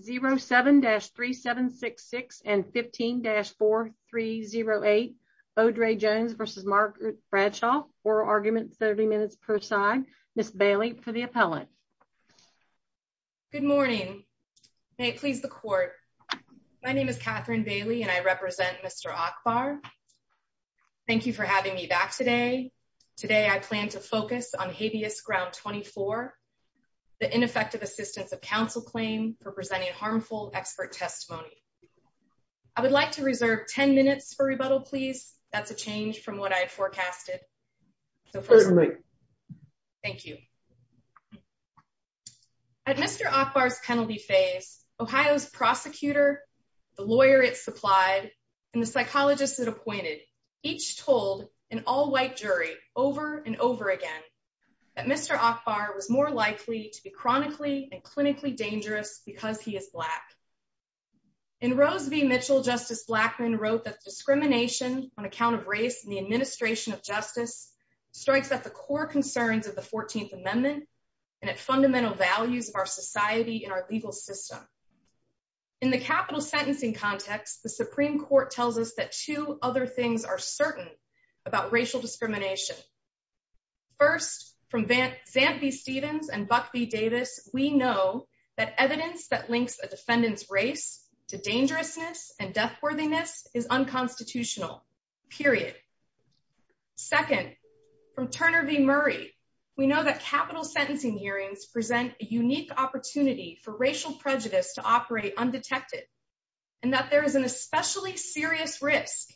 07-3766 and 15-4308 Odraye Jones versus Margaret Bradshaw oral arguments 30 minutes per side Ms. Bailey for the appellant. Good morning may it please the court my name is Catherine Bailey and I represent Mr. Ackbar. Thank you for having me back today. Today I plan to focus on habeas ground 24 the ineffective assistance of counsel claim for presenting harmful expert testimony. I would like to reserve 10 minutes for rebuttal please that's a change from what I had forecasted. Thank you. At Mr. Ackbar's penalty phase Ohio's prosecutor the lawyer it supplied and the was more likely to be chronically and clinically dangerous because he is black. In Rose v Mitchell justice Blackmun wrote that discrimination on account of race and the administration of justice strikes at the core concerns of the 14th amendment and at fundamental values of our society in our legal system. In the capital sentencing context the supreme court tells us that two other things are certain about racial discrimination. First from Zamp v Stevens and Buck v Davis we know that evidence that links a defendant's race to dangerousness and deathworthiness is unconstitutional period. Second from Turner v Murray we know that capital sentencing hearings present a unique opportunity for racial prejudice to operate undetected and that there is an serious risk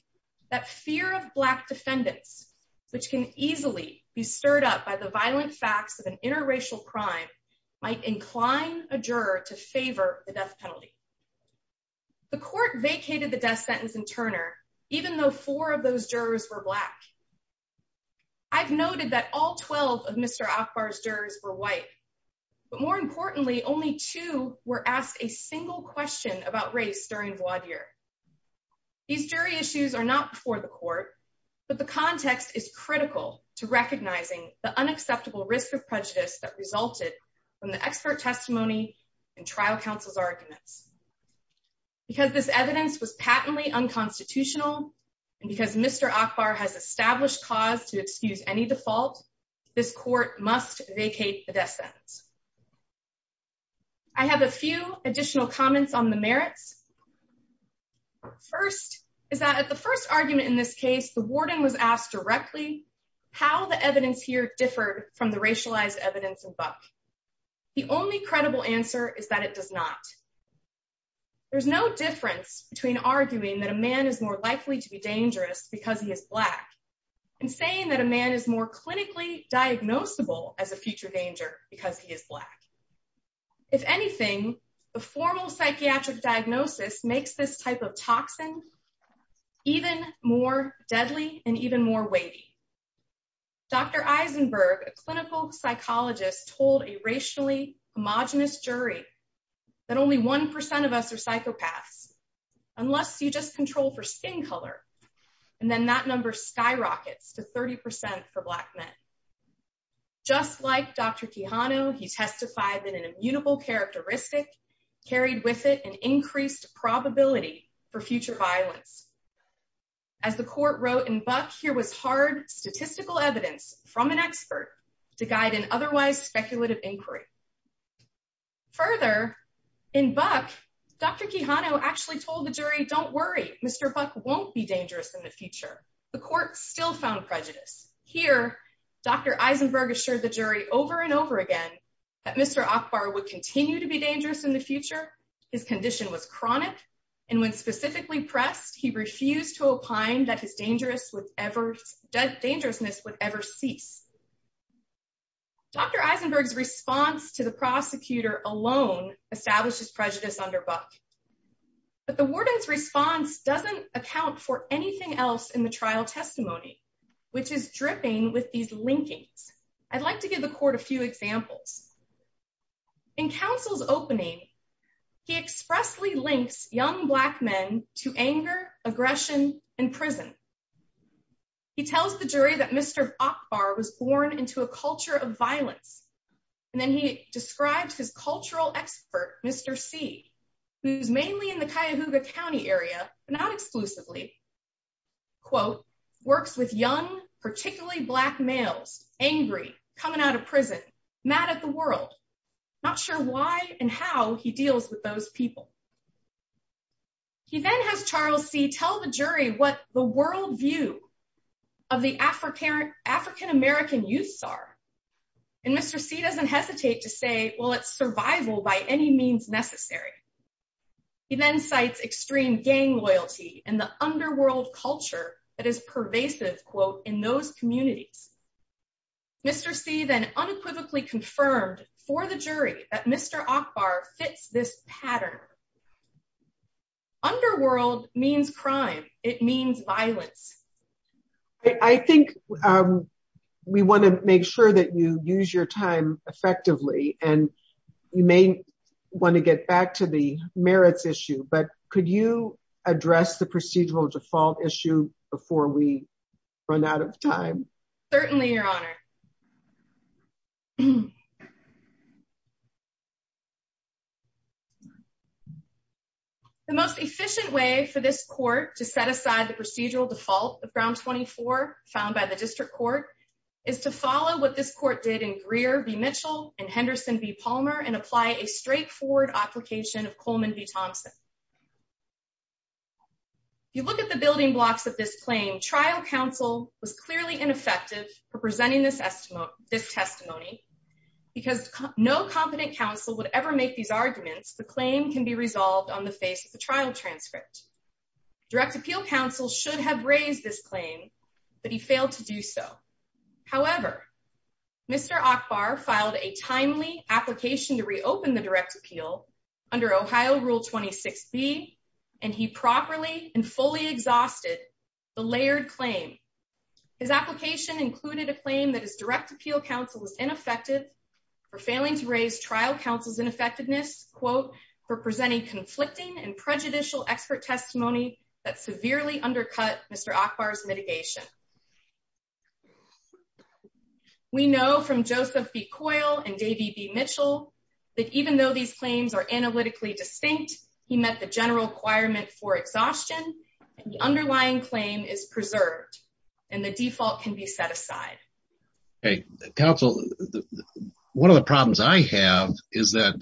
that fear of black defendants which can easily be stirred up by the violent facts of an interracial crime might incline a juror to favor the death penalty. The court vacated the death sentence in Turner even though four of those jurors were black. I've noted that all 12 of Mr. Ackbar's jurors were white but more importantly only two were asked a single question about race during the court. These jury issues are not before the court but the context is critical to recognizing the unacceptable risk of prejudice that resulted from the expert testimony and trial counsel's arguments. Because this evidence was patently unconstitutional and because Mr. Ackbar has established cause to excuse any default this court must vacate the death sentence. I have a few additional comments on the merits. First is that at the first argument in this case the warden was asked directly how the evidence here differed from the racialized evidence in Buck. The only credible answer is that it does not. There's no difference between arguing that a man is more likely to be dangerous because he is black and saying that a man is more clinically diagnosable as a future danger because he is black. If anything the formal psychiatric diagnosis makes this type of toxin even more deadly and even more weighty. Dr. Eisenberg, a clinical psychologist told a racially homogenous jury that only one percent of us are psychopaths unless you just just like Dr. Quijano he testified that an immutable characteristic carried with it an increased probability for future violence. As the court wrote in Buck here was hard statistical evidence from an expert to guide an otherwise speculative inquiry. Further in Buck Dr. Quijano actually told the jury don't worry Mr. Buck won't be dangerous in the future. The court still found prejudice. Here Dr. Eisenberg assured the jury over and over again that Mr. Akbar would continue to be dangerous in the future. His condition was chronic and when specifically pressed he refused to opine that his dangerousness would ever cease. Dr. Eisenberg's response to the prosecutor alone establishes prejudice under Buck. But the warden's response doesn't account for anything else in the trial testimony which is dripping with these linkings. I'd like to give the court a few examples. In counsel's opening he expressly links young black men to anger aggression and prison. He tells the jury that Mr. Akbar was born into a culture of violence and then he describes his cultural expert Mr. C who's mainly in the Cuyahoga County area but not exclusively quote works with young particularly black males angry coming out of prison mad at the world not sure why and how he deals with those people. He then has Charles C tell the jury what the world view of the African American youths are and Mr. C doesn't hesitate to say well it's survival by any means necessary. He then cites extreme gang loyalty and the underworld culture that is pervasive quote in those communities. Mr. C then unequivocally confirmed for the jury that Mr. Akbar fits this you use your time effectively and you may want to get back to the merits issue but could you address the procedural default issue before we run out of time? The most efficient way for this court to set aside the procedural default of ground 24 found by the district court is to follow what this court did in Greer v. Mitchell and Henderson v. Palmer and apply a straightforward application of Coleman v. Thompson. You look at the building blocks of this claim trial counsel was clearly ineffective for presenting this testimony because no competent counsel would ever make these arguments the claim can be resolved on the face of the trial transcript. Direct appeal counsel should have raised this claim but he failed to do so. However Mr. Akbar filed a timely application to reopen the direct appeal under Ohio rule 26b and he properly and fully exhausted the layered claim. His application included a claim that his direct appeal counsel was ineffective for failing to raise trial counsel's ineffectiveness quote for presenting conflicting and prejudicial expert testimony that severely undercut Mr. Akbar's mitigation. We know from Joseph B. Coyle and Davey B. Mitchell that even though these claims are analytically distinct he met the general requirement for exhaustion the underlying claim is preserved and the default can be set aside. Okay counsel one of the problems I have is that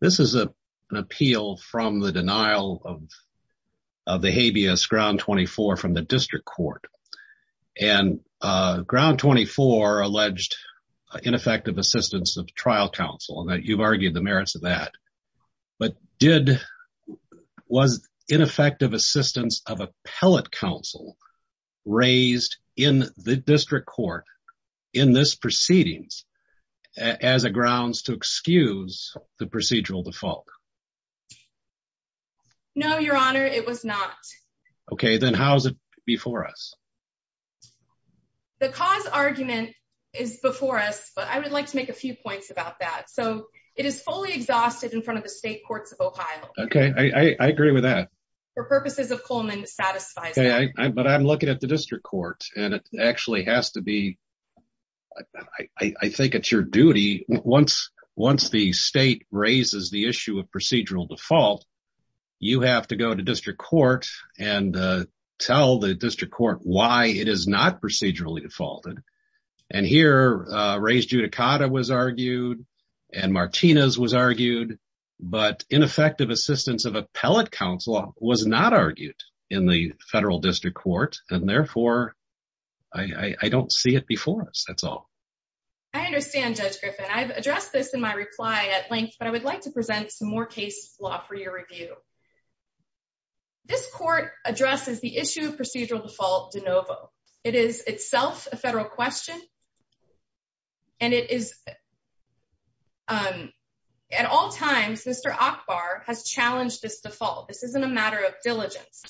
this is a an appeal from the denial of of the habeas ground 24 from the district court and ground 24 alleged ineffective assistance of trial counsel and that you've argued the merits of that but did was ineffective assistance of appellate counsel raised in the district court in this proceedings as a grounds to excuse the procedural default? No your honor it was not. Okay then how is it before us? The cause argument is before us but I would like to make a few points about that so it is fully exhausted in front of the state courts of Ohio. Okay I agree with that. For purposes of I think it's your duty once the state raises the issue of procedural default you have to go to district court and tell the district court why it is not procedurally defaulted and here raised judicata was argued and Martinez was argued but ineffective assistance of appellate counsel was not argued in the federal district court and therefore I I don't see it before us that's all. I understand judge Griffin I've addressed this in my reply at length but I would like to present some more case law for your review. This court addresses the issue of procedural default de novo it is itself a federal question and it is um at all times Mr. Ackbar has challenged this default this isn't a matter of diligence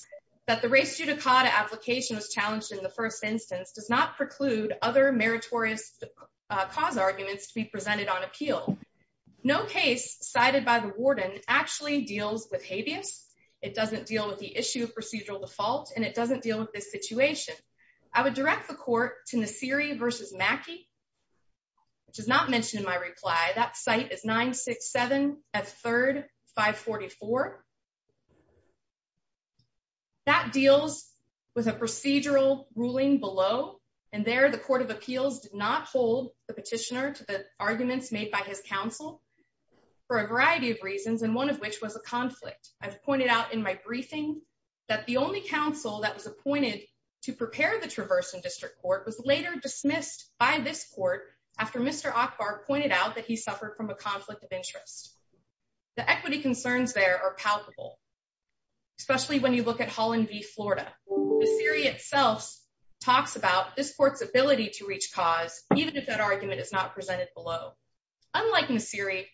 that the race judicata application was challenged in the first instance does not preclude other meritorious cause arguments to be presented on appeal. No case cited by the warden actually deals with habeas it doesn't deal with the issue of procedural default and it doesn't deal with this situation. I would direct the court to Nasiri versus Mackey which is not mentioned in my reply that site is 967 at 3rd 544. That deals with a procedural ruling below and there the court of appeals did not hold the petitioner to the arguments made by his counsel for a variety of reasons and one of which was a conflict. I've pointed out in my briefing that the only counsel that was appointed to prepare the this court after Mr. Ackbar pointed out that he suffered from a conflict of interest. The equity concerns there are palpable especially when you look at Holland v Florida. Nasiri itself talks about this court's ability to reach cause even if that argument is not presented below. Unlike Nasiri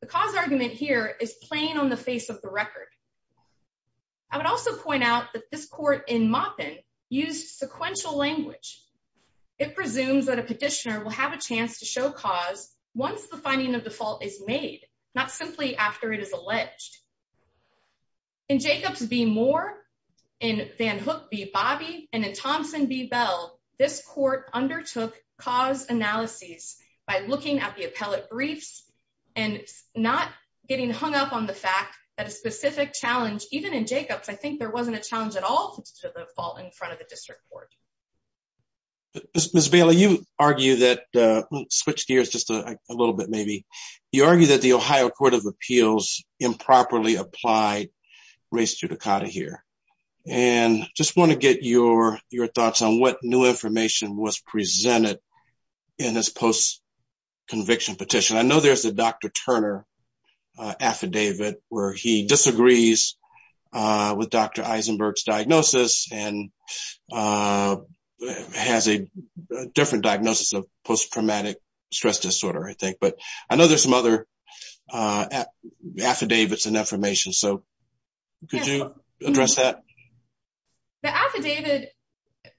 the cause argument here is plain on the face of the record. I would also point out that this court in Maupin used sequential language. It presumes that a petitioner will have a chance to show cause once the finding of the fault is made not simply after it is alleged. In Jacobs v Moore in Van Hook v Bobby and in Thompson v Bell this court undertook cause analyses by looking at the appellate briefs and not getting hung up on the fact that a challenge even in Jacobs I think there wasn't a challenge at all to the fault in front of the district court. Ms. Bailey you argue that switch gears just a little bit maybe you argue that the Ohio court of appeals improperly applied race judicata here and just want to get your thoughts on what new information was presented in this post conviction petition. I know there's a Dr. Eisenberg's diagnosis and has a different diagnosis of post traumatic stress disorder I think but I know there's some other affidavits and affirmations so could you address that? The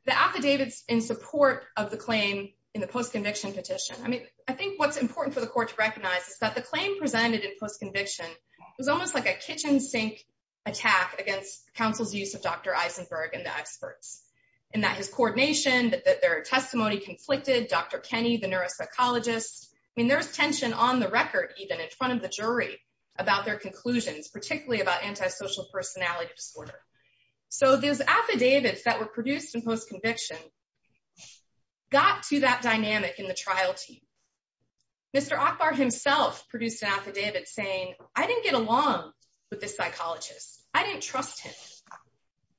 affidavits in support of the claim in the post conviction petition I mean I think what's important for the court to recognize is that the claim presented in post conviction was almost like a kitchen sink attack against counsel's use of Dr. Eisenberg and the experts and that his coordination that their testimony conflicted Dr. Kenny the neuropsychologist I mean there's tension on the record even in front of the jury about their conclusions particularly about antisocial personality disorder. So those affidavits that were produced in post conviction got to that with the psychologist I didn't trust him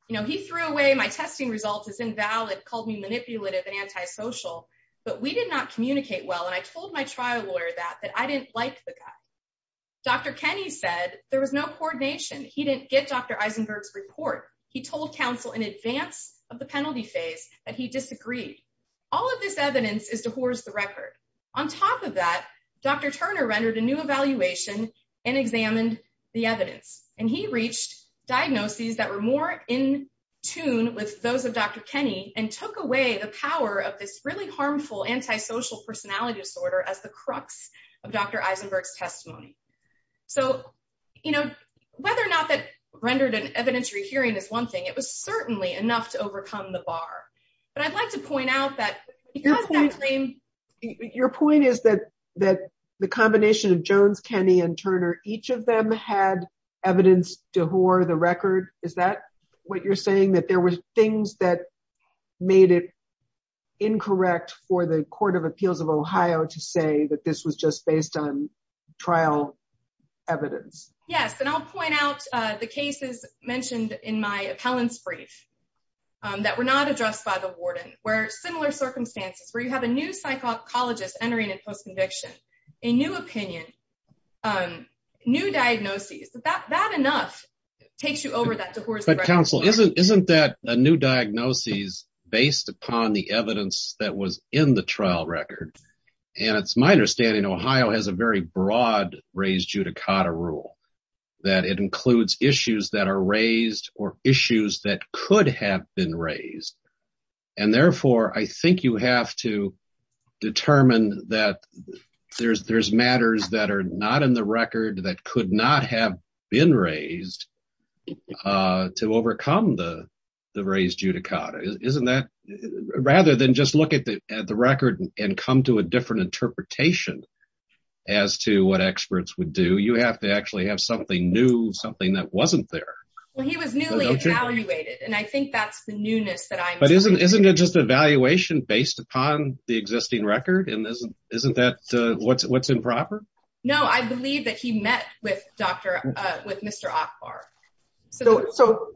you know he threw away my testing results as invalid called me manipulative and antisocial but we did not communicate well and I told my trial lawyer that that I didn't like the guy Dr. Kenny said there was no coordination he didn't get Dr. Eisenberg's report he told counsel in advance of the penalty phase that he disagreed all of this evidence is the record on top of that Dr. Turner rendered a new evaluation and examined the evidence and he reached diagnoses that were more in tune with those of Dr. Kenny and took away the power of this really harmful antisocial personality disorder as the crux of Dr. Eisenberg's testimony. So you know whether or not that rendered an evidentiary hearing is one thing it was certainly enough to overcome the bar but I'd like to point out that because your point is that that the combination of Jones, Kenny, and Turner each of them had evidence to whore the record is that what you're saying that there were things that made it incorrect for the court of appeals of Ohio to say that this was just based on trial evidence. Yes and I'll point out the cases mentioned in my appellant's brief that were not addressed by the warden where similar circumstances where you have a new psychologist entering in post-conviction, a new opinion, new diagnoses that that enough takes you over that. But counsel isn't isn't that a new diagnosis based upon the evidence that was in the trial record and it's my understanding Ohio has a very raised or issues that could have been raised and therefore I think you have to determine that there's there's matters that are not in the record that could not have been raised to overcome the the raised judicata. Isn't that rather than just look at the at the record and come to a different interpretation as to what experts would do you have to actually have something new something that wasn't there. Well he was newly evaluated and I think that's the newness that I'm but isn't isn't it just evaluation based upon the existing record and isn't isn't that uh what's what's improper? No I believe that he met with Dr uh with Mr. Akbar. So so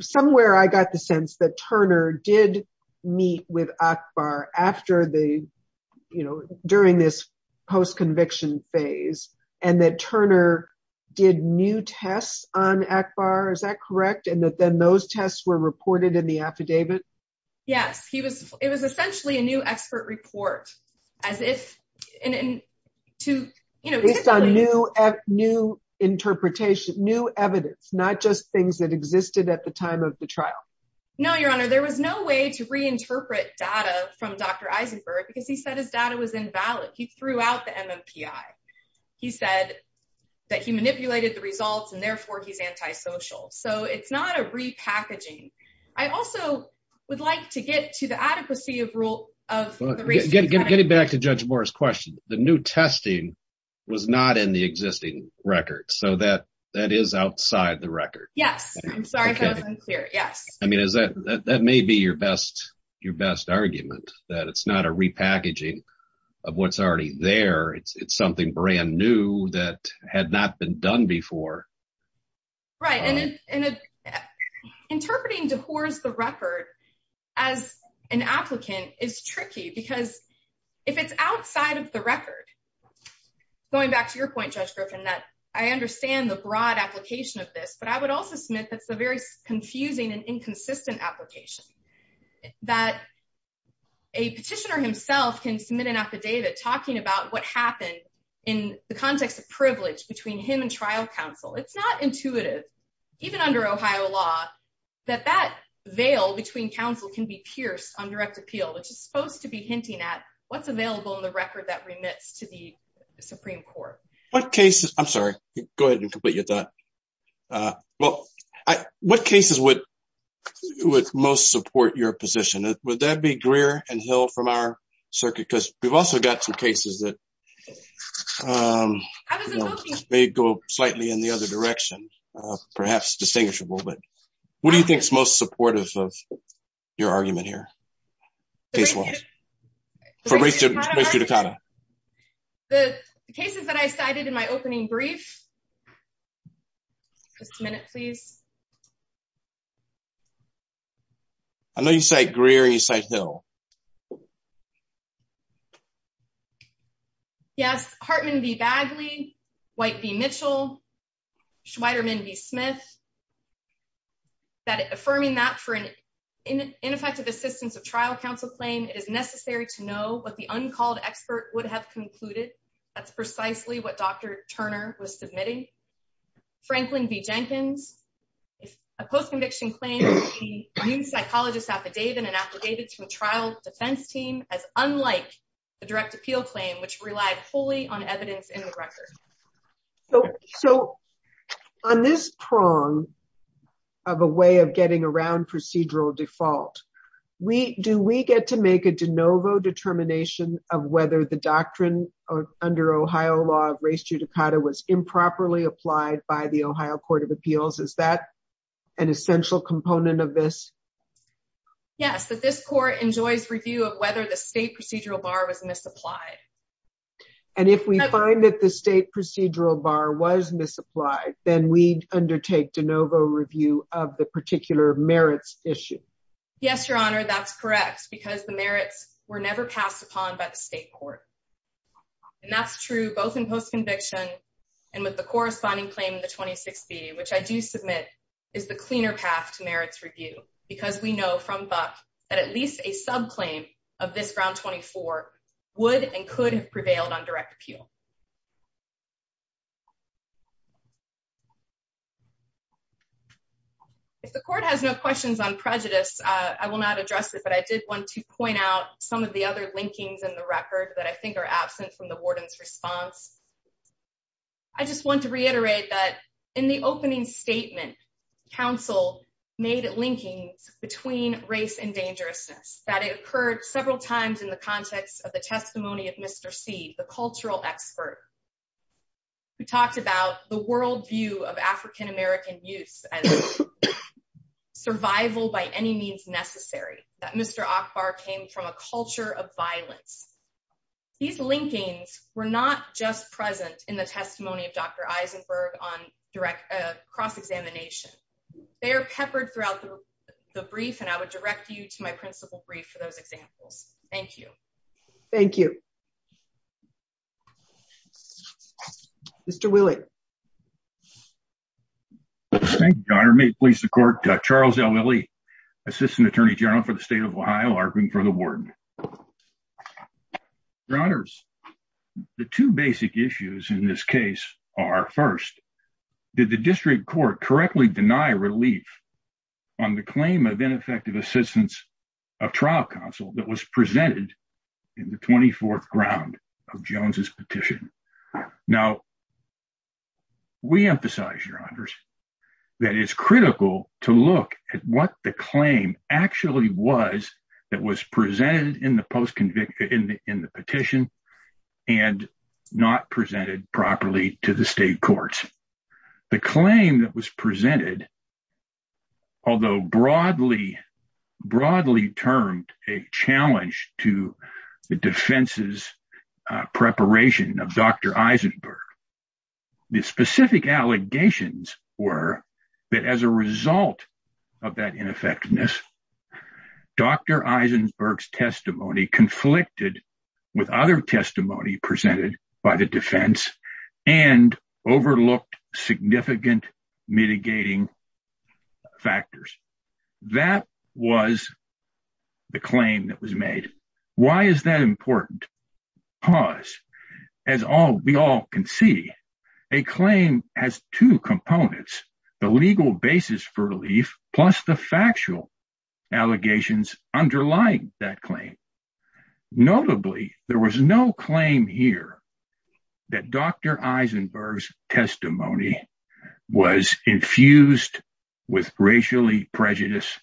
somewhere I got the sense that Turner did meet with Akbar after the you know during this post-conviction phase and that Turner did new tests on Akbar is that correct and that then those tests were reported in the affidavit? Yes he was it was essentially a new expert report as if and and to you know based on new new interpretation new evidence not just things that existed at the time of the trial. No your honor there was no way to reinterpret data from Dr. Eisenberg because he said his data was invalid. He threw out the MMPI. He said that he manipulated the results and therefore he's antisocial. So it's not a repackaging. I also would like to get to the adequacy of rule of getting back to Judge Moore's question. The new testing was not in the existing record so that that is outside the record. Yes I'm sorry that unclear yes. I mean is that that may be your best your best argument that it's not a repackaging of what's already there. It's it's something brand new that had not been done before. Right and interpreting DeHore's the record as an applicant is tricky because if it's outside of the record going back to your point Judge Griffin that I understand the broad application of this but I would also submit that's a very confusing and inconsistent application that a petitioner himself can submit an affidavit talking about what happened in the context of privilege between him and trial counsel. It's not intuitive even under Ohio law that that veil between counsel can be pierced on direct appeal which is supposed to be hinting at what's available in the record that remits to the Supreme Court. What cases I'm sorry go ahead and complete your thought uh well I what cases would would most support your position would that be Greer and Hill from our circuit because we've also got some cases that um they go slightly in the other direction uh perhaps distinguishable but what do you think is most supportive of your argument here case one for race judicata the cases that I cited in my opening brief just a minute please I know you say Greer and you say Hill yes Hartman v Bagley, White v Mitchell, Schweiderman v Smith that affirming that for an ineffective assistance of trial counsel claim it is necessary to know what the uncalled expert would have concluded that's precisely what Dr. Turner was submitting Franklin v Jenkins if a post-conviction claim a new psychologist affidavit and affidavit to the trial defense team as unlike the direct appeal claim which relied wholly on evidence in the record so so on this prong of a way of getting around procedural default we do we get to make a de novo determination of whether the doctrine of under Ohio law of race judicata was improperly applied by the Ohio court of appeals is that an essential component of this yes that this court enjoys review of whether the state procedural bar was misapplied and if we find that the state procedural bar was misapplied then we undertake de novo review of the particular merits issue yes your honor that's correct because the merits were never passed upon by the state court and that's true both in post-conviction and with the corresponding claim in the 26b which I do submit is the cleaner path to merits review because we know from buck that at least a subclaim of this ground 24 would and could have prevailed on direct appeal if the court has no questions on prejudice I will not address it but I did want to point out some of the other linkings in the record that I think are absent from the warden's response I just want to reiterate that in the opening statement council made linkings between race and dangerousness that it occurred several times in the context of the testimony of mr c the cultural expert who talked about the world view of african-american youth and survival by any means that mr akbar came from a culture of violence these linkings were not just present in the testimony of dr eisenberg on direct cross-examination they are peppered throughout the brief and I would direct you to my principal brief for those examples thank you thank you mr willie thank you your honor may it please the court charles l willie assistant attorney general for the state of ohio arguing for the warden your honors the two basic issues in this case are first did the district court correctly deny relief on the claim of ineffective assistance of trial counsel that was presented in the 24th ground of jones's petition now we emphasize your honors that it's critical to look at what the claim actually was that was presented in the post convicted in the in the petition and not presented properly to the state courts the claim that was presented although broadly broadly termed a challenge to the defense's preparation of dr eisenberg the specific allegations were that as a result of that ineffectiveness dr eisenberg's testimony conflicted with other testimony presented by the and overlooked significant mitigating factors that was the claim that was made why is that important pause as all we all can see a claim has two components the legal basis for relief plus the factual allegations underlying that claim notably there was no claim here that dr eisenberg's testimony was infused with racially prejudiced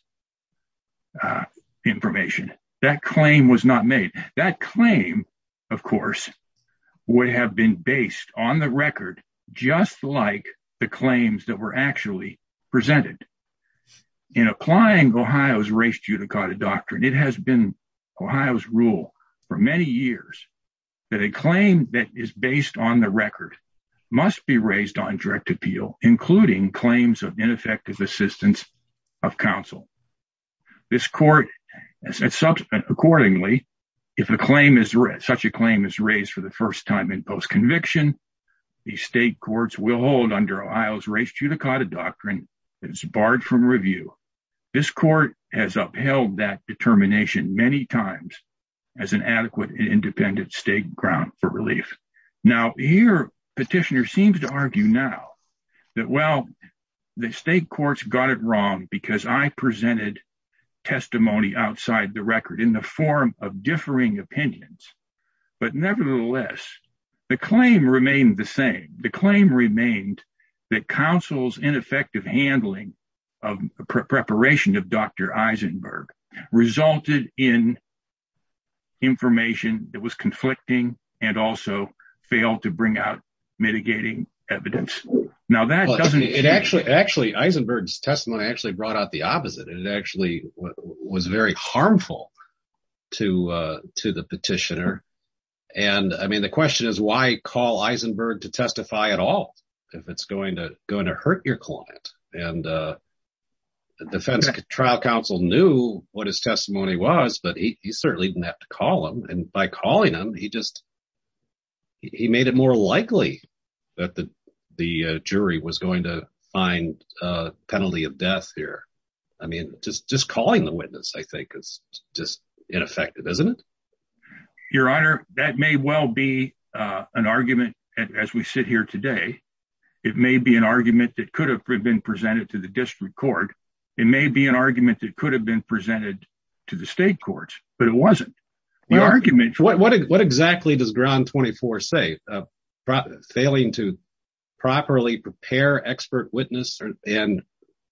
information that claim was not made that claim of course would have been based on the record just like the claims that were actually presented in applying ohio's race judicata doctrine it has been ohio's rule for many years that a claim that is based on the record must be raised on direct appeal including claims of ineffective assistance of counsel this court as such accordingly if a claim is such a claim is raised for the first time in post conviction the state courts will hold under ohio's race judicata doctrine that is barred from review this court has upheld that determination many times as an adequate and independent state ground for relief now here petitioner seems to argue now that well the state courts got it wrong because i presented testimony outside the record in the form of differing opinions but nevertheless the claim remained the same the claim remained that counsel's ineffective handling of preparation of dr eisenberg resulted in information that was conflicting and also failed to bring out mitigating evidence now that doesn't it actually actually eisenberg's testimony actually brought out the opposite and it actually was very harmful to uh to the petitioner and i the question is why call eisenberg to testify at all if it's going to going to hurt your client and uh the defense trial counsel knew what his testimony was but he certainly didn't have to call him and by calling him he just he made it more likely that the the jury was going to find a penalty of death here i mean just just calling the witness i think is just ineffective isn't it your honor that may well be uh an argument as we sit here today it may be an argument that could have been presented to the district court it may be an argument that could have been presented to the state courts but it wasn't the argument what exactly does ground 24 say failing to properly prepare expert witness and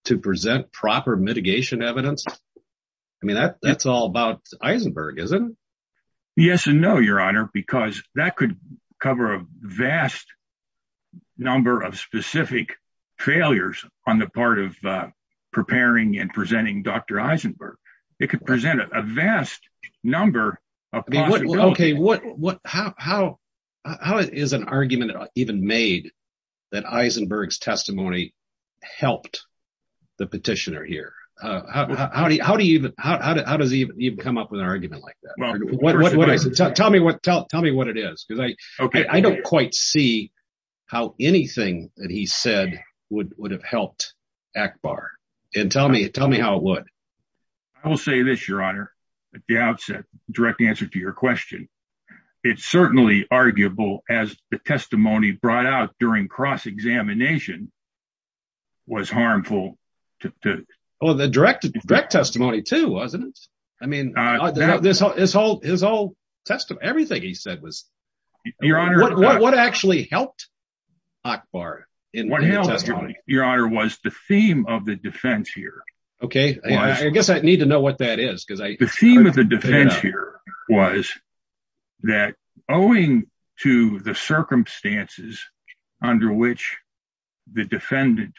to present proper mitigation evidence i mean that that's all about eisenberg isn't yes and no your honor because that could cover a vast number of specific failures on the part of uh preparing and presenting dr eisenberg it could present a vast number of okay what what how how how is an argument even made that eisenberg's how do you how does he even come up with an argument like that well what what i said tell me what tell tell me what it is because i okay i don't quite see how anything that he said would would have helped akbar and tell me tell me how it would i will say this your honor the outset direct answer to your question it's certainly arguable as the testimony brought out during cross-examination was harmful to oh the direct direct testimony too wasn't it i mean this whole his whole test of everything he said was your honor what actually helped akbar in your honor was the theme of the defense here okay i guess i need to know what that is because i the theme of the circumstances under which the defendant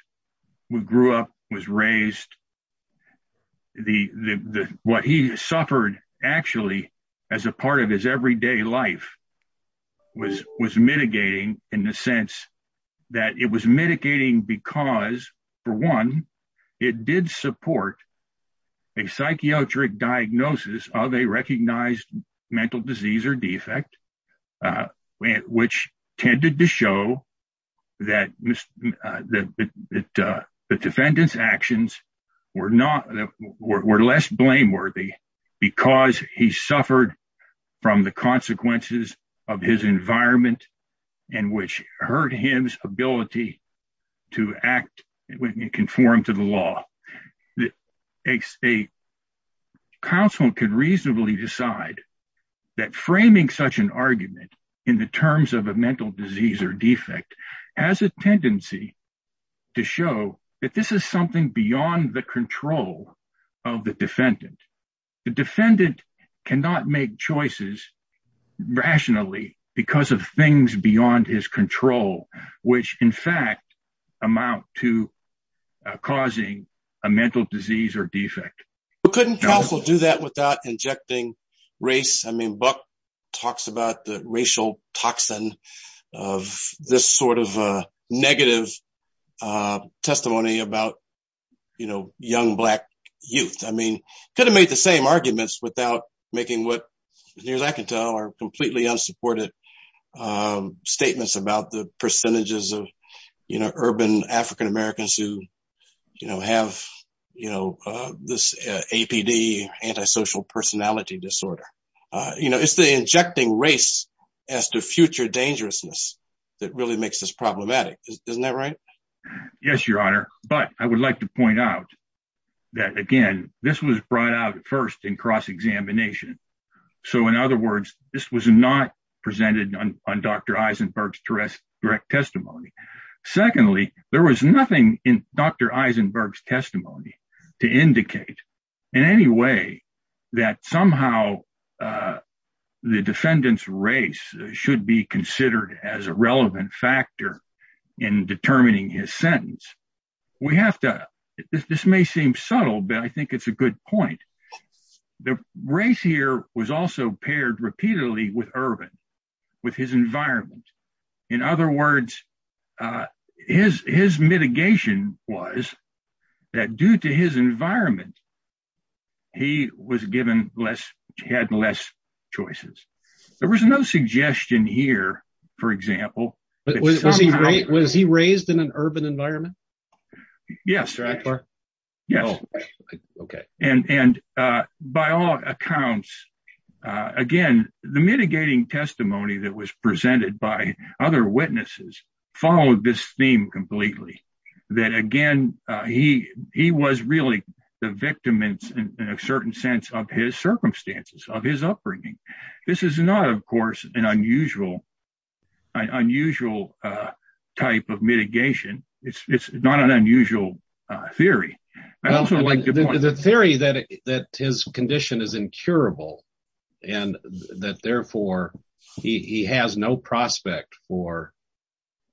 grew up was raised the the what he suffered actually as a part of his everyday life was was mitigating in the sense that it was mitigating because for one it did support a psychiatric diagnosis of a recognized mental disease or defect uh which tended to show that that that uh the defendant's actions were not that were less blameworthy because he suffered from the consequences of his environment and which hurt him's ability to act and conform to the law that a state could reasonably decide that framing such an argument in the terms of a mental disease or defect has a tendency to show that this is something beyond the control of the defendant the defendant cannot make choices rationally because of things beyond his control which in fact amount to causing a mental disease or defect but couldn't also do that without injecting race i mean buck talks about the racial toxin of this sort of uh negative uh testimony about you know young black youth i mean could have made the same arguments without making what years i can tell are completely unsupported um statements about the percentages of you know urban african-americans who you know have you know uh this apd antisocial personality disorder uh you know it's the injecting race as the future dangerousness that really makes this problematic isn't that right yes your honor but i would like to point out that again this was brought out at first in cross-examination so in other words this was not presented on dr secondly there was nothing in dr eisenberg's testimony to indicate in any way that somehow the defendant's race should be considered as a relevant factor in determining his sentence we have to this may seem subtle but i think it's a good point the race here was also paired repeatedly with urban with his environment in other words uh his his mitigation was that due to his environment he was given less had less choices there was no suggestion here for example but was he great was he raised in an urban environment yes right yes okay and and uh by all accounts uh again the mitigating testimony that was presented by other witnesses followed this theme completely that again uh he he was really the victim in a certain sense of his circumstances of his upbringing this is not of course an unusual unusual uh type of mitigation it's it's not an unusual uh theory i also like the theory that that his condition is incurable and that therefore he he has no prospect for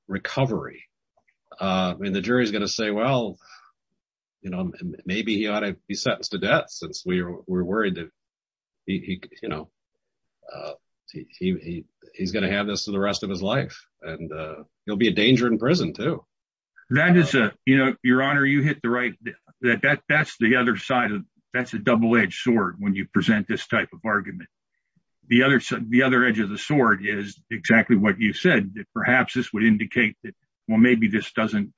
recovery uh i mean the jury's going to say well you know maybe he ought to be sentenced to death since we were worried that he you know uh he he he's going to have this for the rest of his life and uh he'll be a danger in prison too that is a you know your honor you hit the right that that that's the other side of that's a double-edged sword when you present this type of argument the other side the other edge of the sword is exactly what you said that perhaps this would indicate that well maybe this doesn't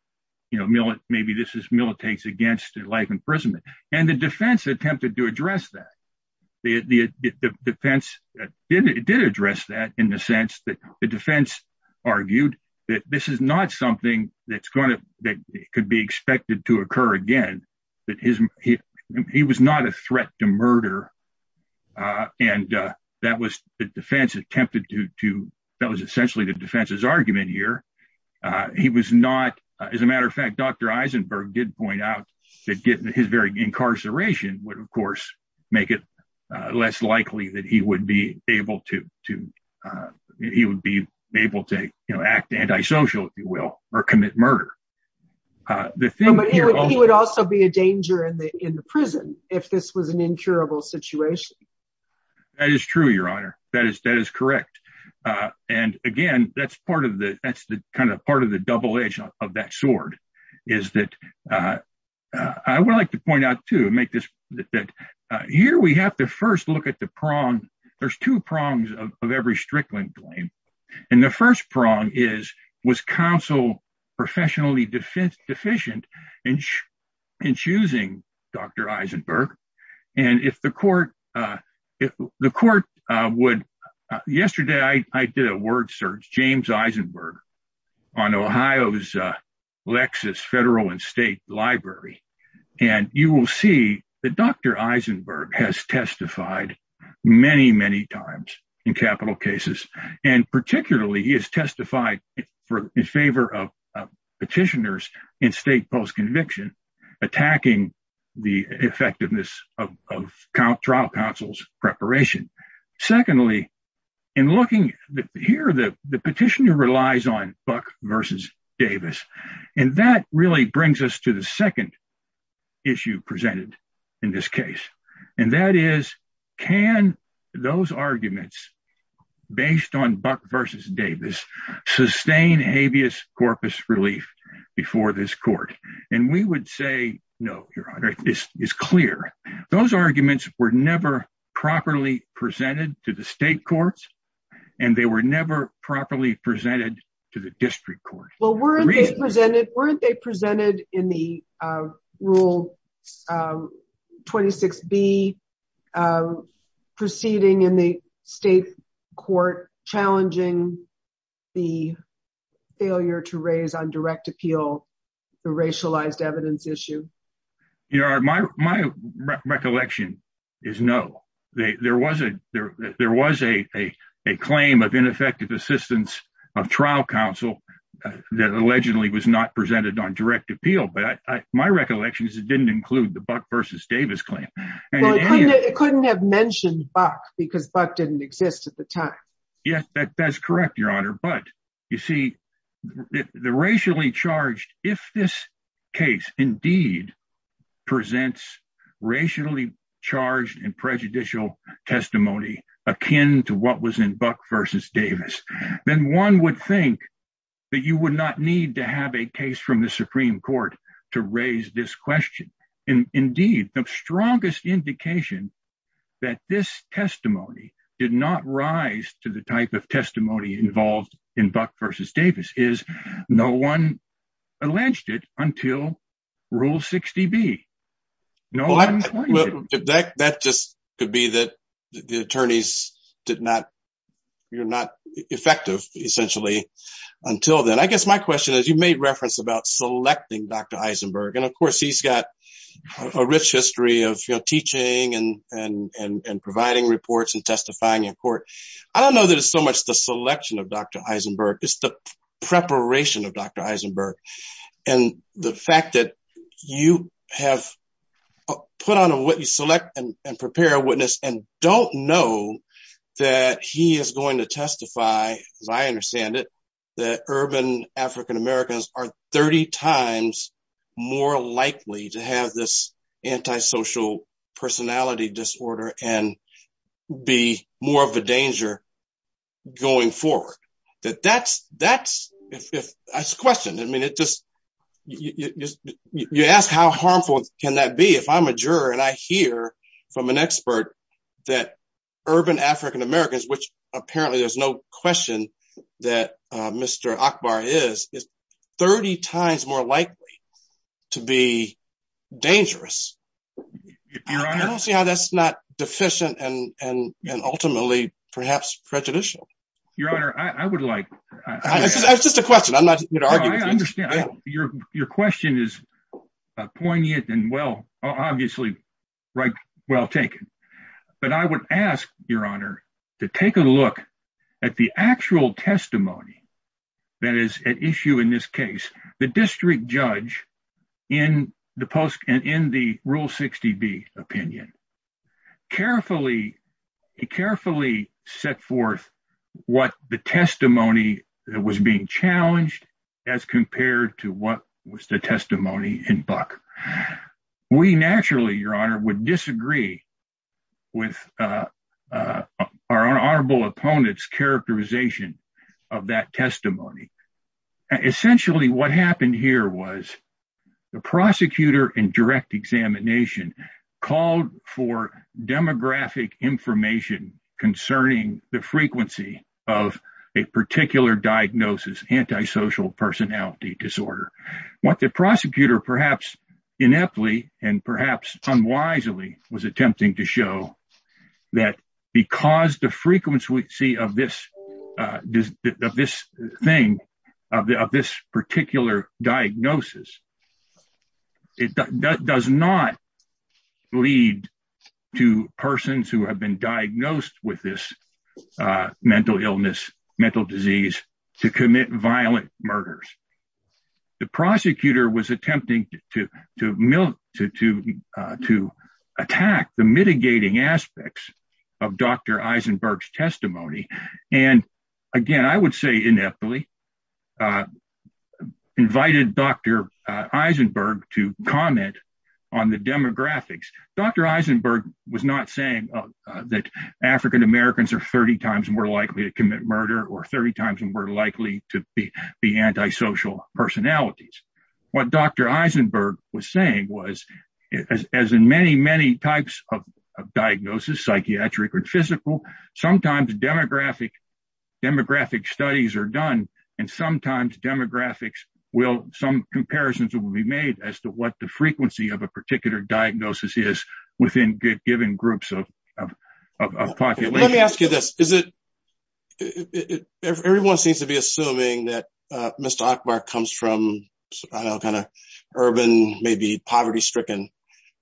you know maybe this is militates against life imprisonment and the defense attempted to address that the the defense did it did address that in the sense that the defense argued that this is not something that's going to that could be expected to occur again that his he he was not a threat to murder uh and uh that was the defense attempted to to that was essentially the defense's argument here uh he was not as a matter of fact dr eisenberg did point out that getting his very incarceration would of course make it uh less likely that he would be able to to uh he would be able to you know act anti-social if you will or commit murder uh the thing would also be a danger in the in the prison if this was an incurable situation that is true your honor that is that is correct uh and again that's part of the that's the kind of part of the double edge of that sword is that uh i would like to point out to make this that uh here we have to first look at the prong there's two prongs of every strickland claim and the first prong is was counsel professionally defense deficient in in choosing dr eisenberg and if the court uh the court uh would yesterday i i did a word search james eisenberg on ohio's uh lexus federal and library and you will see that dr eisenberg has testified many many times in capital cases and particularly he has testified for in favor of petitioners in state post-conviction attacking the effectiveness of trial counsel's preparation secondly in looking here the the petitioner relies on buck versus davis and that really brings us to the second issue presented in this case and that is can those arguments based on buck versus davis sustain habeas corpus relief before this court and we would say no your honor this is clear those arguments were never properly presented to the state courts and they were never properly presented to the district court well weren't they presented weren't they presented in the uh rule uh 26b uh proceeding in the state court challenging the failure to raise on direct appeal the racialized evidence issue you know my my recollection is no there was a there was a a claim of ineffective assistance of trial counsel that allegedly was not presented on direct appeal but i my recollection is it didn't include the buck versus davis claim it couldn't have mentioned buck because buck didn't exist at the time yes that's correct your honor but you see the racially charged if this case indeed presents racially charged and prejudicial testimony akin to what was in buck versus davis then one would think that you would not need to have a case from the supreme court to raise this question and indeed the strongest indication that this testimony did not rise to type of testimony involved in buck versus davis is no one alleged it until rule 60b no that just could be that the attorneys did not you're not effective essentially until then i guess my question is you made reference about selecting dr eisenberg and of course he's got a rich history of you know teaching and and and providing reports and testifying in court i don't know that it's so much the selection of dr eisenberg it's the preparation of dr eisenberg and the fact that you have put on what you select and prepare a witness and don't know that he is going to testify as i understand it that urban african americans are 30 times more likely to have this anti-social personality disorder and be more of a danger going forward that that's that's if that's questioned i mean it just you just you ask how harmful can that be if i'm a juror and i hear from an expert that urban african americans which apparently there's no question that uh mr akbar is 30 times more likely to be dangerous i don't see how that's not deficient and and and ultimately perhaps prejudicial your honor i i would like it's just a question i'm not going to argue i understand your your question is poignant and well obviously right well taken but i would ask your honor to take a look at the actual testimony that is at issue in this case the district judge in the post and in the rule 60b opinion carefully carefully set forth what the testimony that was being challenged as compared to what was the testimony in buck we naturally your honor would disagree with uh uh our honorable opponent's characterization of that testimony essentially what happened here was the prosecutor in direct examination called for demographic information concerning the frequency of a particular diagnosis anti-social personality disorder what the prosecutor perhaps ineptly and perhaps unwisely was attempting to show that because the frequency of this uh of this thing of this particular diagnosis it does not lead to persons who have been diagnosed with this uh mental illness mental disease to commit violent murders the prosecutor was attempting to to milk to to to attack the mitigating aspects of dr eisenberg's testimony and again i would say ineptly invited dr eisenberg to comment on the demographics dr eisenberg was not saying that african-americans are 30 times more likely to commit murder or 30 times more likely to be the anti-social personalities what dr eisenberg was saying was as in many many types of diagnosis psychiatric or physical sometimes demographic demographic studies are done and sometimes demographics will some comparisons will be made as to what the frequency of a particular diagnosis is within given groups of of population let me ask you this is it everyone seems to be assuming that uh mr ackbar comes from i don't know kind of urban maybe poverty stricken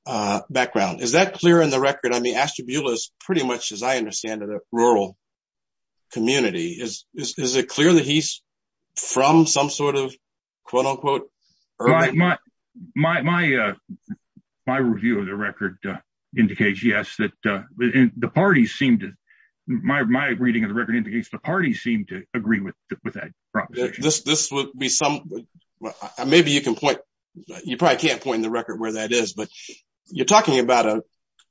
uh background is that clear in the record i mean ashtabula is pretty much as i understand it a rural community is is review of the record uh indicates yes that uh the parties seem to my my reading of the record indicates the parties seem to agree with with that proposition this this would be some maybe you can point you probably can't point the record where that is but you're talking about a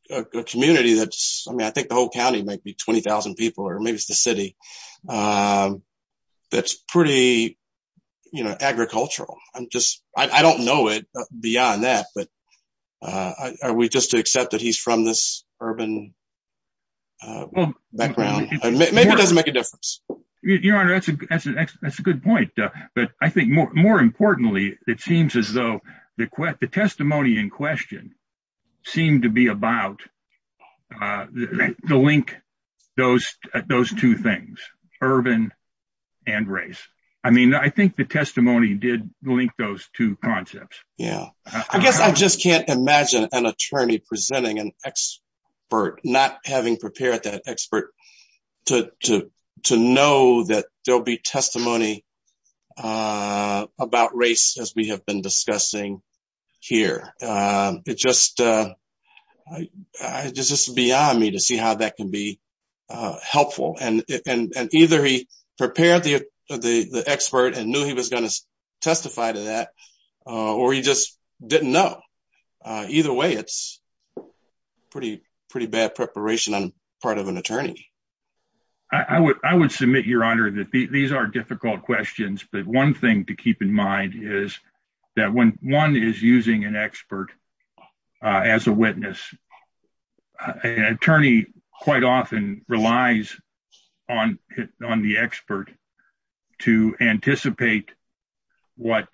a community that's i mean i think the whole county might be 20 000 people or maybe it's the city um that's pretty you know agricultural i'm just i don't know it beyond that but uh are we just to accept that he's from this urban uh background maybe it doesn't make a difference your honor that's a that's a that's a good point uh but i think more more importantly it seems as though the quest the i mean i think the testimony did link those two concepts yeah i guess i just can't imagine an attorney presenting an expert not having prepared that expert to to to know that there'll be testimony uh about race as we have been discussing here um it just uh i it's just beyond me to see how that can be uh helpful and and either he prepared the the the expert and knew he was going to testify to that uh or he just didn't know uh either way it's pretty pretty bad preparation on part of an attorney i would i would submit your honor that these are difficult questions but one thing to keep in mind is that when one is using an expert uh as a witness an attorney quite often relies on on the expert to anticipate what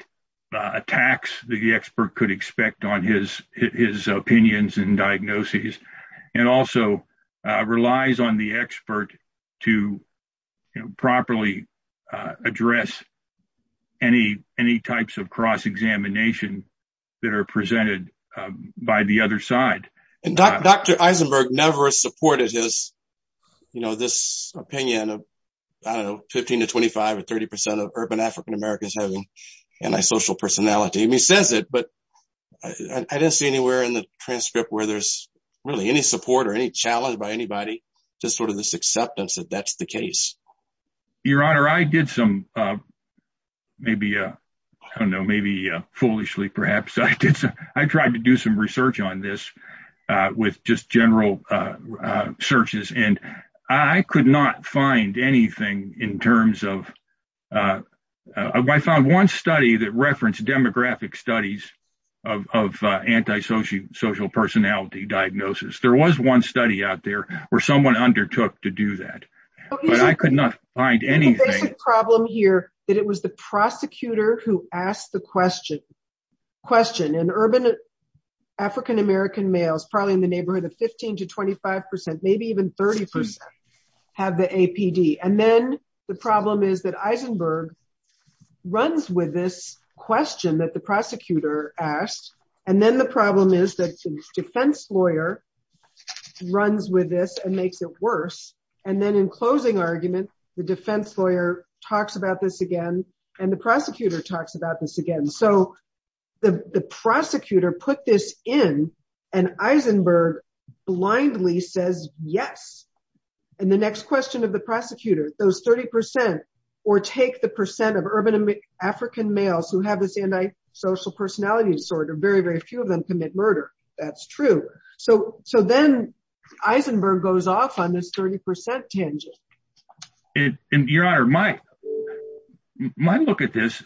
attacks the expert could expect on his his opinions and any any types of cross-examination that are presented by the other side and dr eisenberg never supported his you know this opinion of i don't know 15 to 25 or 30 percent of urban african-americans having antisocial personality and he says it but i didn't see anywhere in the transcript where there's really any support or any challenge by anybody just sort of this acceptance that that's the case your honor i did some uh maybe uh i don't know maybe uh foolishly perhaps i did so i tried to do some research on this uh with just general uh searches and i could not find anything in terms of uh i found one study that referenced demographic studies of of antisocial social personality diagnosis there was one study out there where someone undertook to do that but i could not find anything problem here that it was the prosecutor who asked the question question in urban african-american males probably in the neighborhood of 15 to 25 maybe even 30 have the apd and then the problem is that eisenberg runs with this question that prosecutor asked and then the problem is that the defense lawyer runs with this and makes it worse and then in closing argument the defense lawyer talks about this again and the prosecutor talks about this again so the the prosecutor put this in and eisenberg blindly says yes and the next question of the prosecutor those 30 percent or take the percent of urban african males who have antisocial personality disorder very very few of them commit murder that's true so so then eisenberg goes off on this 30 percent tangent and your honor my my look at this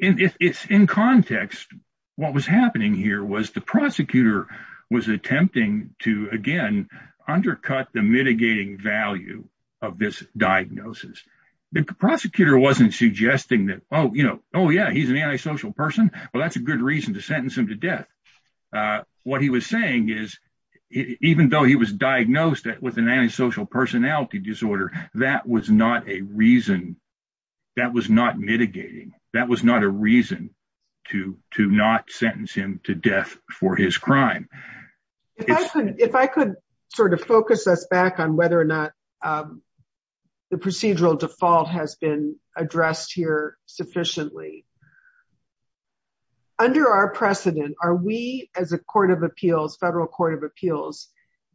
and it's in context what was happening here was the prosecutor was attempting to again undercut the mitigating value of this diagnosis the prosecutor wasn't suggesting that oh you know oh yeah he's an antisocial person well that's a good reason to sentence him to death uh what he was saying is even though he was diagnosed with an antisocial personality disorder that was not a reason that was not mitigating that was not a reason to to not sentence him to death for his crime if i could if i could sort of focus us back on whether or not um the procedural default has been addressed here sufficiently under our precedent are we as a court of appeals federal court of appeals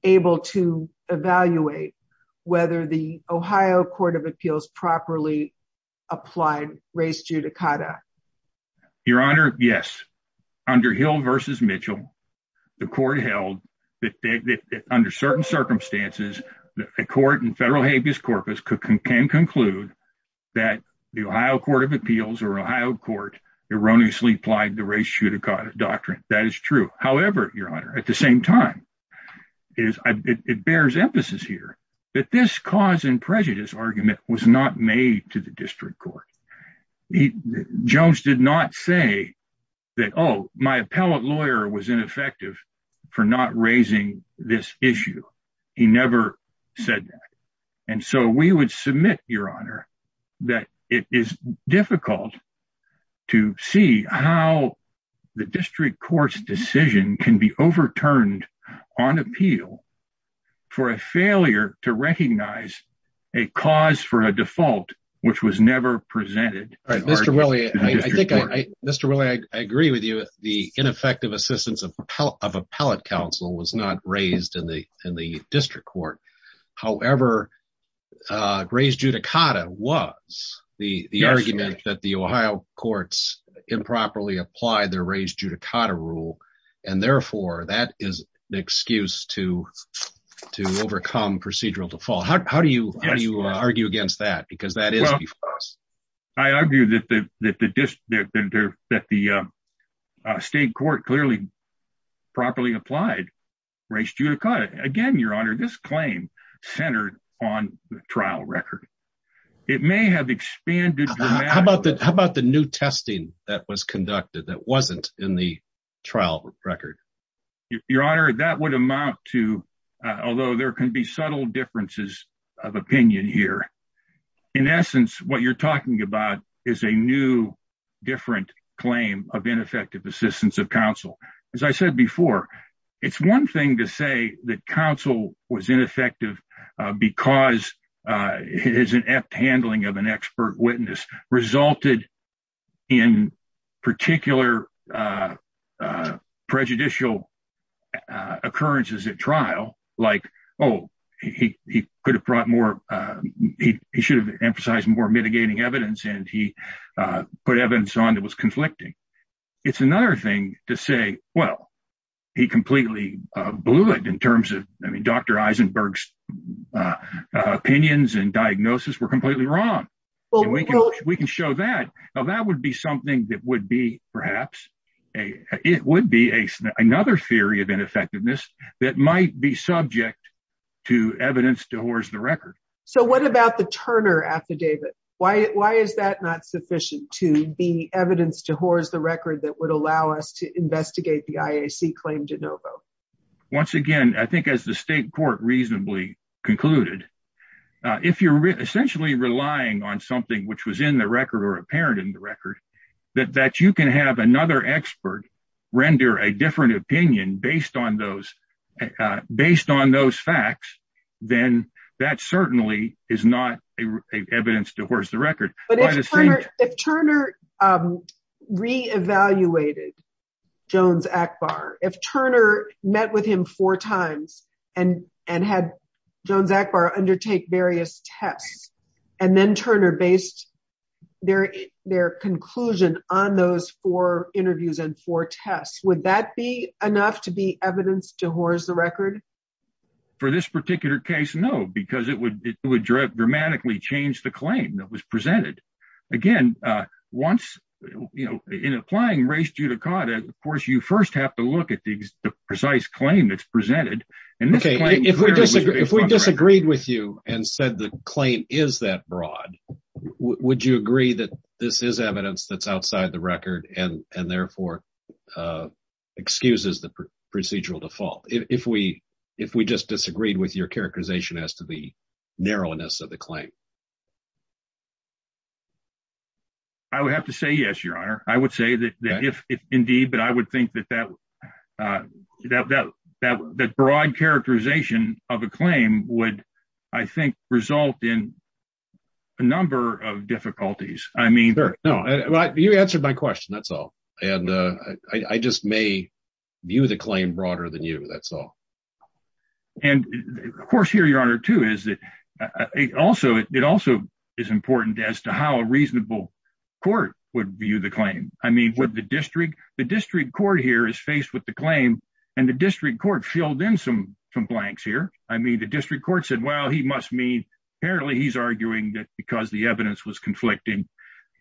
able to evaluate whether the ohio court of appeals properly applied race judicata your honor yes under hill versus mitchell the court held that under certain circumstances a court in federal habeas corpus can conclude that the ohio court of appeals or ohio court erroneously applied the race judicata doctrine that is true however your honor at the same time is it bears emphasis here that this cause and prejudice argument was not made to the district court he jones did not say that oh my appellate lawyer was ineffective for not raising this issue he never said that and so we would submit your honor that it is difficult to see how the district court's decision can be overturned on appeal for a failure to recognize a cause for a default which was never presented all right mr willie i think i mr willie i agree with you the ineffective assistance of appellate council was not raised in the in the district court however uh race judicata was the the argument that the ohio courts improperly applied their race judicata rule and therefore that is an excuse to to overcome procedural default how do you how do you argue against that because that is i argue that the that the that the uh state court clearly properly applied race judicata again your honor this claim centered on the trial record it may have expanded how about that how about the new testing that was conducted that wasn't in the trial record your honor that would amount to although there can be subtle differences of opinion here in essence what you're talking about is a new different claim of ineffective assistance of counsel as i said before it's one thing to say that counsel was ineffective because uh it is an apt handling of an expert witness resulted in particular uh uh he he could have brought more uh he he should have emphasized more mitigating evidence and he uh put evidence on that was conflicting it's another thing to say well he completely uh blew it in terms of i mean dr eisenberg's uh opinions and diagnosis were completely wrong we can show that now that would be something that would be perhaps a it would be a another theory of ineffectiveness that might be subject to evidence to horse the record so what about the turner affidavit why why is that not sufficient to be evidence to horse the record that would allow us to investigate the iac claim de novo once again i think as the state court reasonably concluded if you're essentially relying on something which was in the record or apparent in the record that that you can have another expert render a different opinion based on those based on those facts then that certainly is not a evidence to horse the record but if turner re-evaluated jones akbar if turner met with him four times and and had jones akbar undertake various tests and then turner based their their conclusion on those four interviews and four tests would that be enough to be evidence to horse the record for this particular case no because it would it would dramatically change the claim that was presented again uh once you know in applying race judicata of course you first have to look at the precise claim that's presented and okay if we disagree if we disagreed with you and said the claim is that broad would you agree that this is evidence that's outside the record and and therefore uh excuses the procedural default if we if we just disagreed with your characterization as to the narrowness of the claim i would have to say yes your honor i would say that that if indeed but i would think that uh that that that broad characterization of a claim would i think result in a number of difficulties i mean no well you answered my question that's all and uh i just may view the claim broader than you that's all and of course here your honor too is that also it also is important as to how a reasonable court would view the claim i mean would the the district court here is faced with the claim and the district court filled in some some blanks here i mean the district court said well he must mean apparently he's arguing that because the evidence was conflicting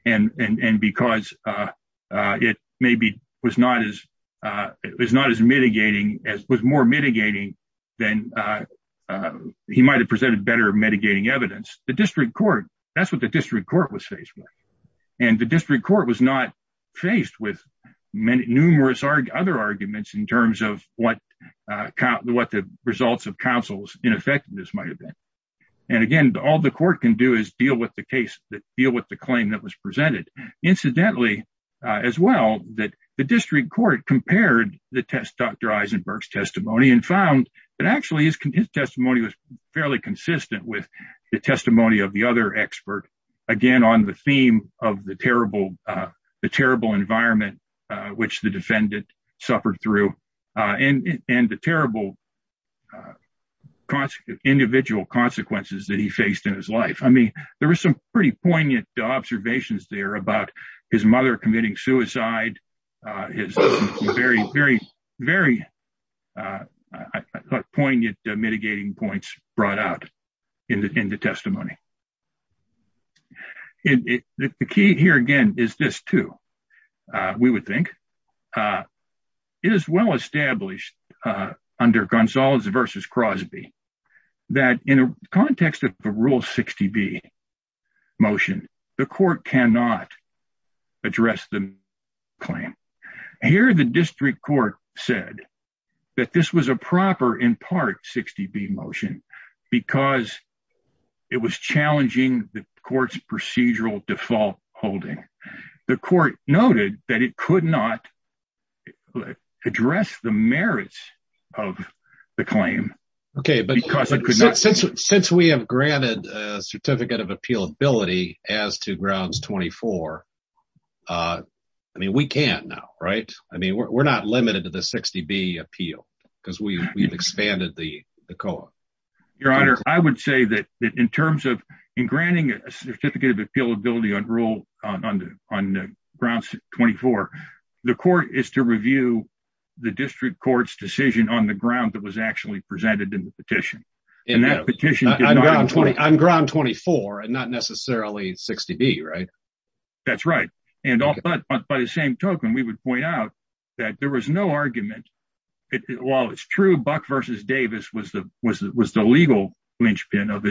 and and and because uh uh it maybe was not as uh it was not as mitigating as was more mitigating than uh he might have presented better mitigating evidence the district court that's what the district court was faced with and the district court was not faced with numerous other arguments in terms of what uh what the results of counsel's ineffectiveness might have been and again all the court can do is deal with the case that deal with the claim that was presented incidentally uh as well that the district court compared the test dr eisenberg's testimony and found that actually his testimony was fairly consistent with the testimony of the other expert again on the theme of the terrible uh the terrible environment uh which the defendant suffered through uh and and the terrible uh consequence individual consequences that he faced in his life i mean there was some pretty poignant observations there about his mother committing suicide uh his very very very uh i thought poignant mitigating points brought out in the testimony it the key here again is this too uh we would think uh it is well established uh under gonzales versus crosby that in a context of the rule 60b motion the court cannot address the claim here the district court said that this was a proper in part 60b motion because it was challenging the court's procedural default holding the court noted that it could not address the merits of the claim okay but because it could not since since we have granted a uh i mean we can't now right i mean we're not limited to the 60b appeal because we've expanded the the co-op your honor i would say that in terms of in granting a certificate of appealability on rule on the on the grounds 24 the court is to review the district court's decision on the ground that was actually presented in the petition and that petition on ground 24 and not necessarily 60b right that's right and all but by the same token we would point out that there was no argument it while it's true buck versus davis was the was it was the legal lynchpin of his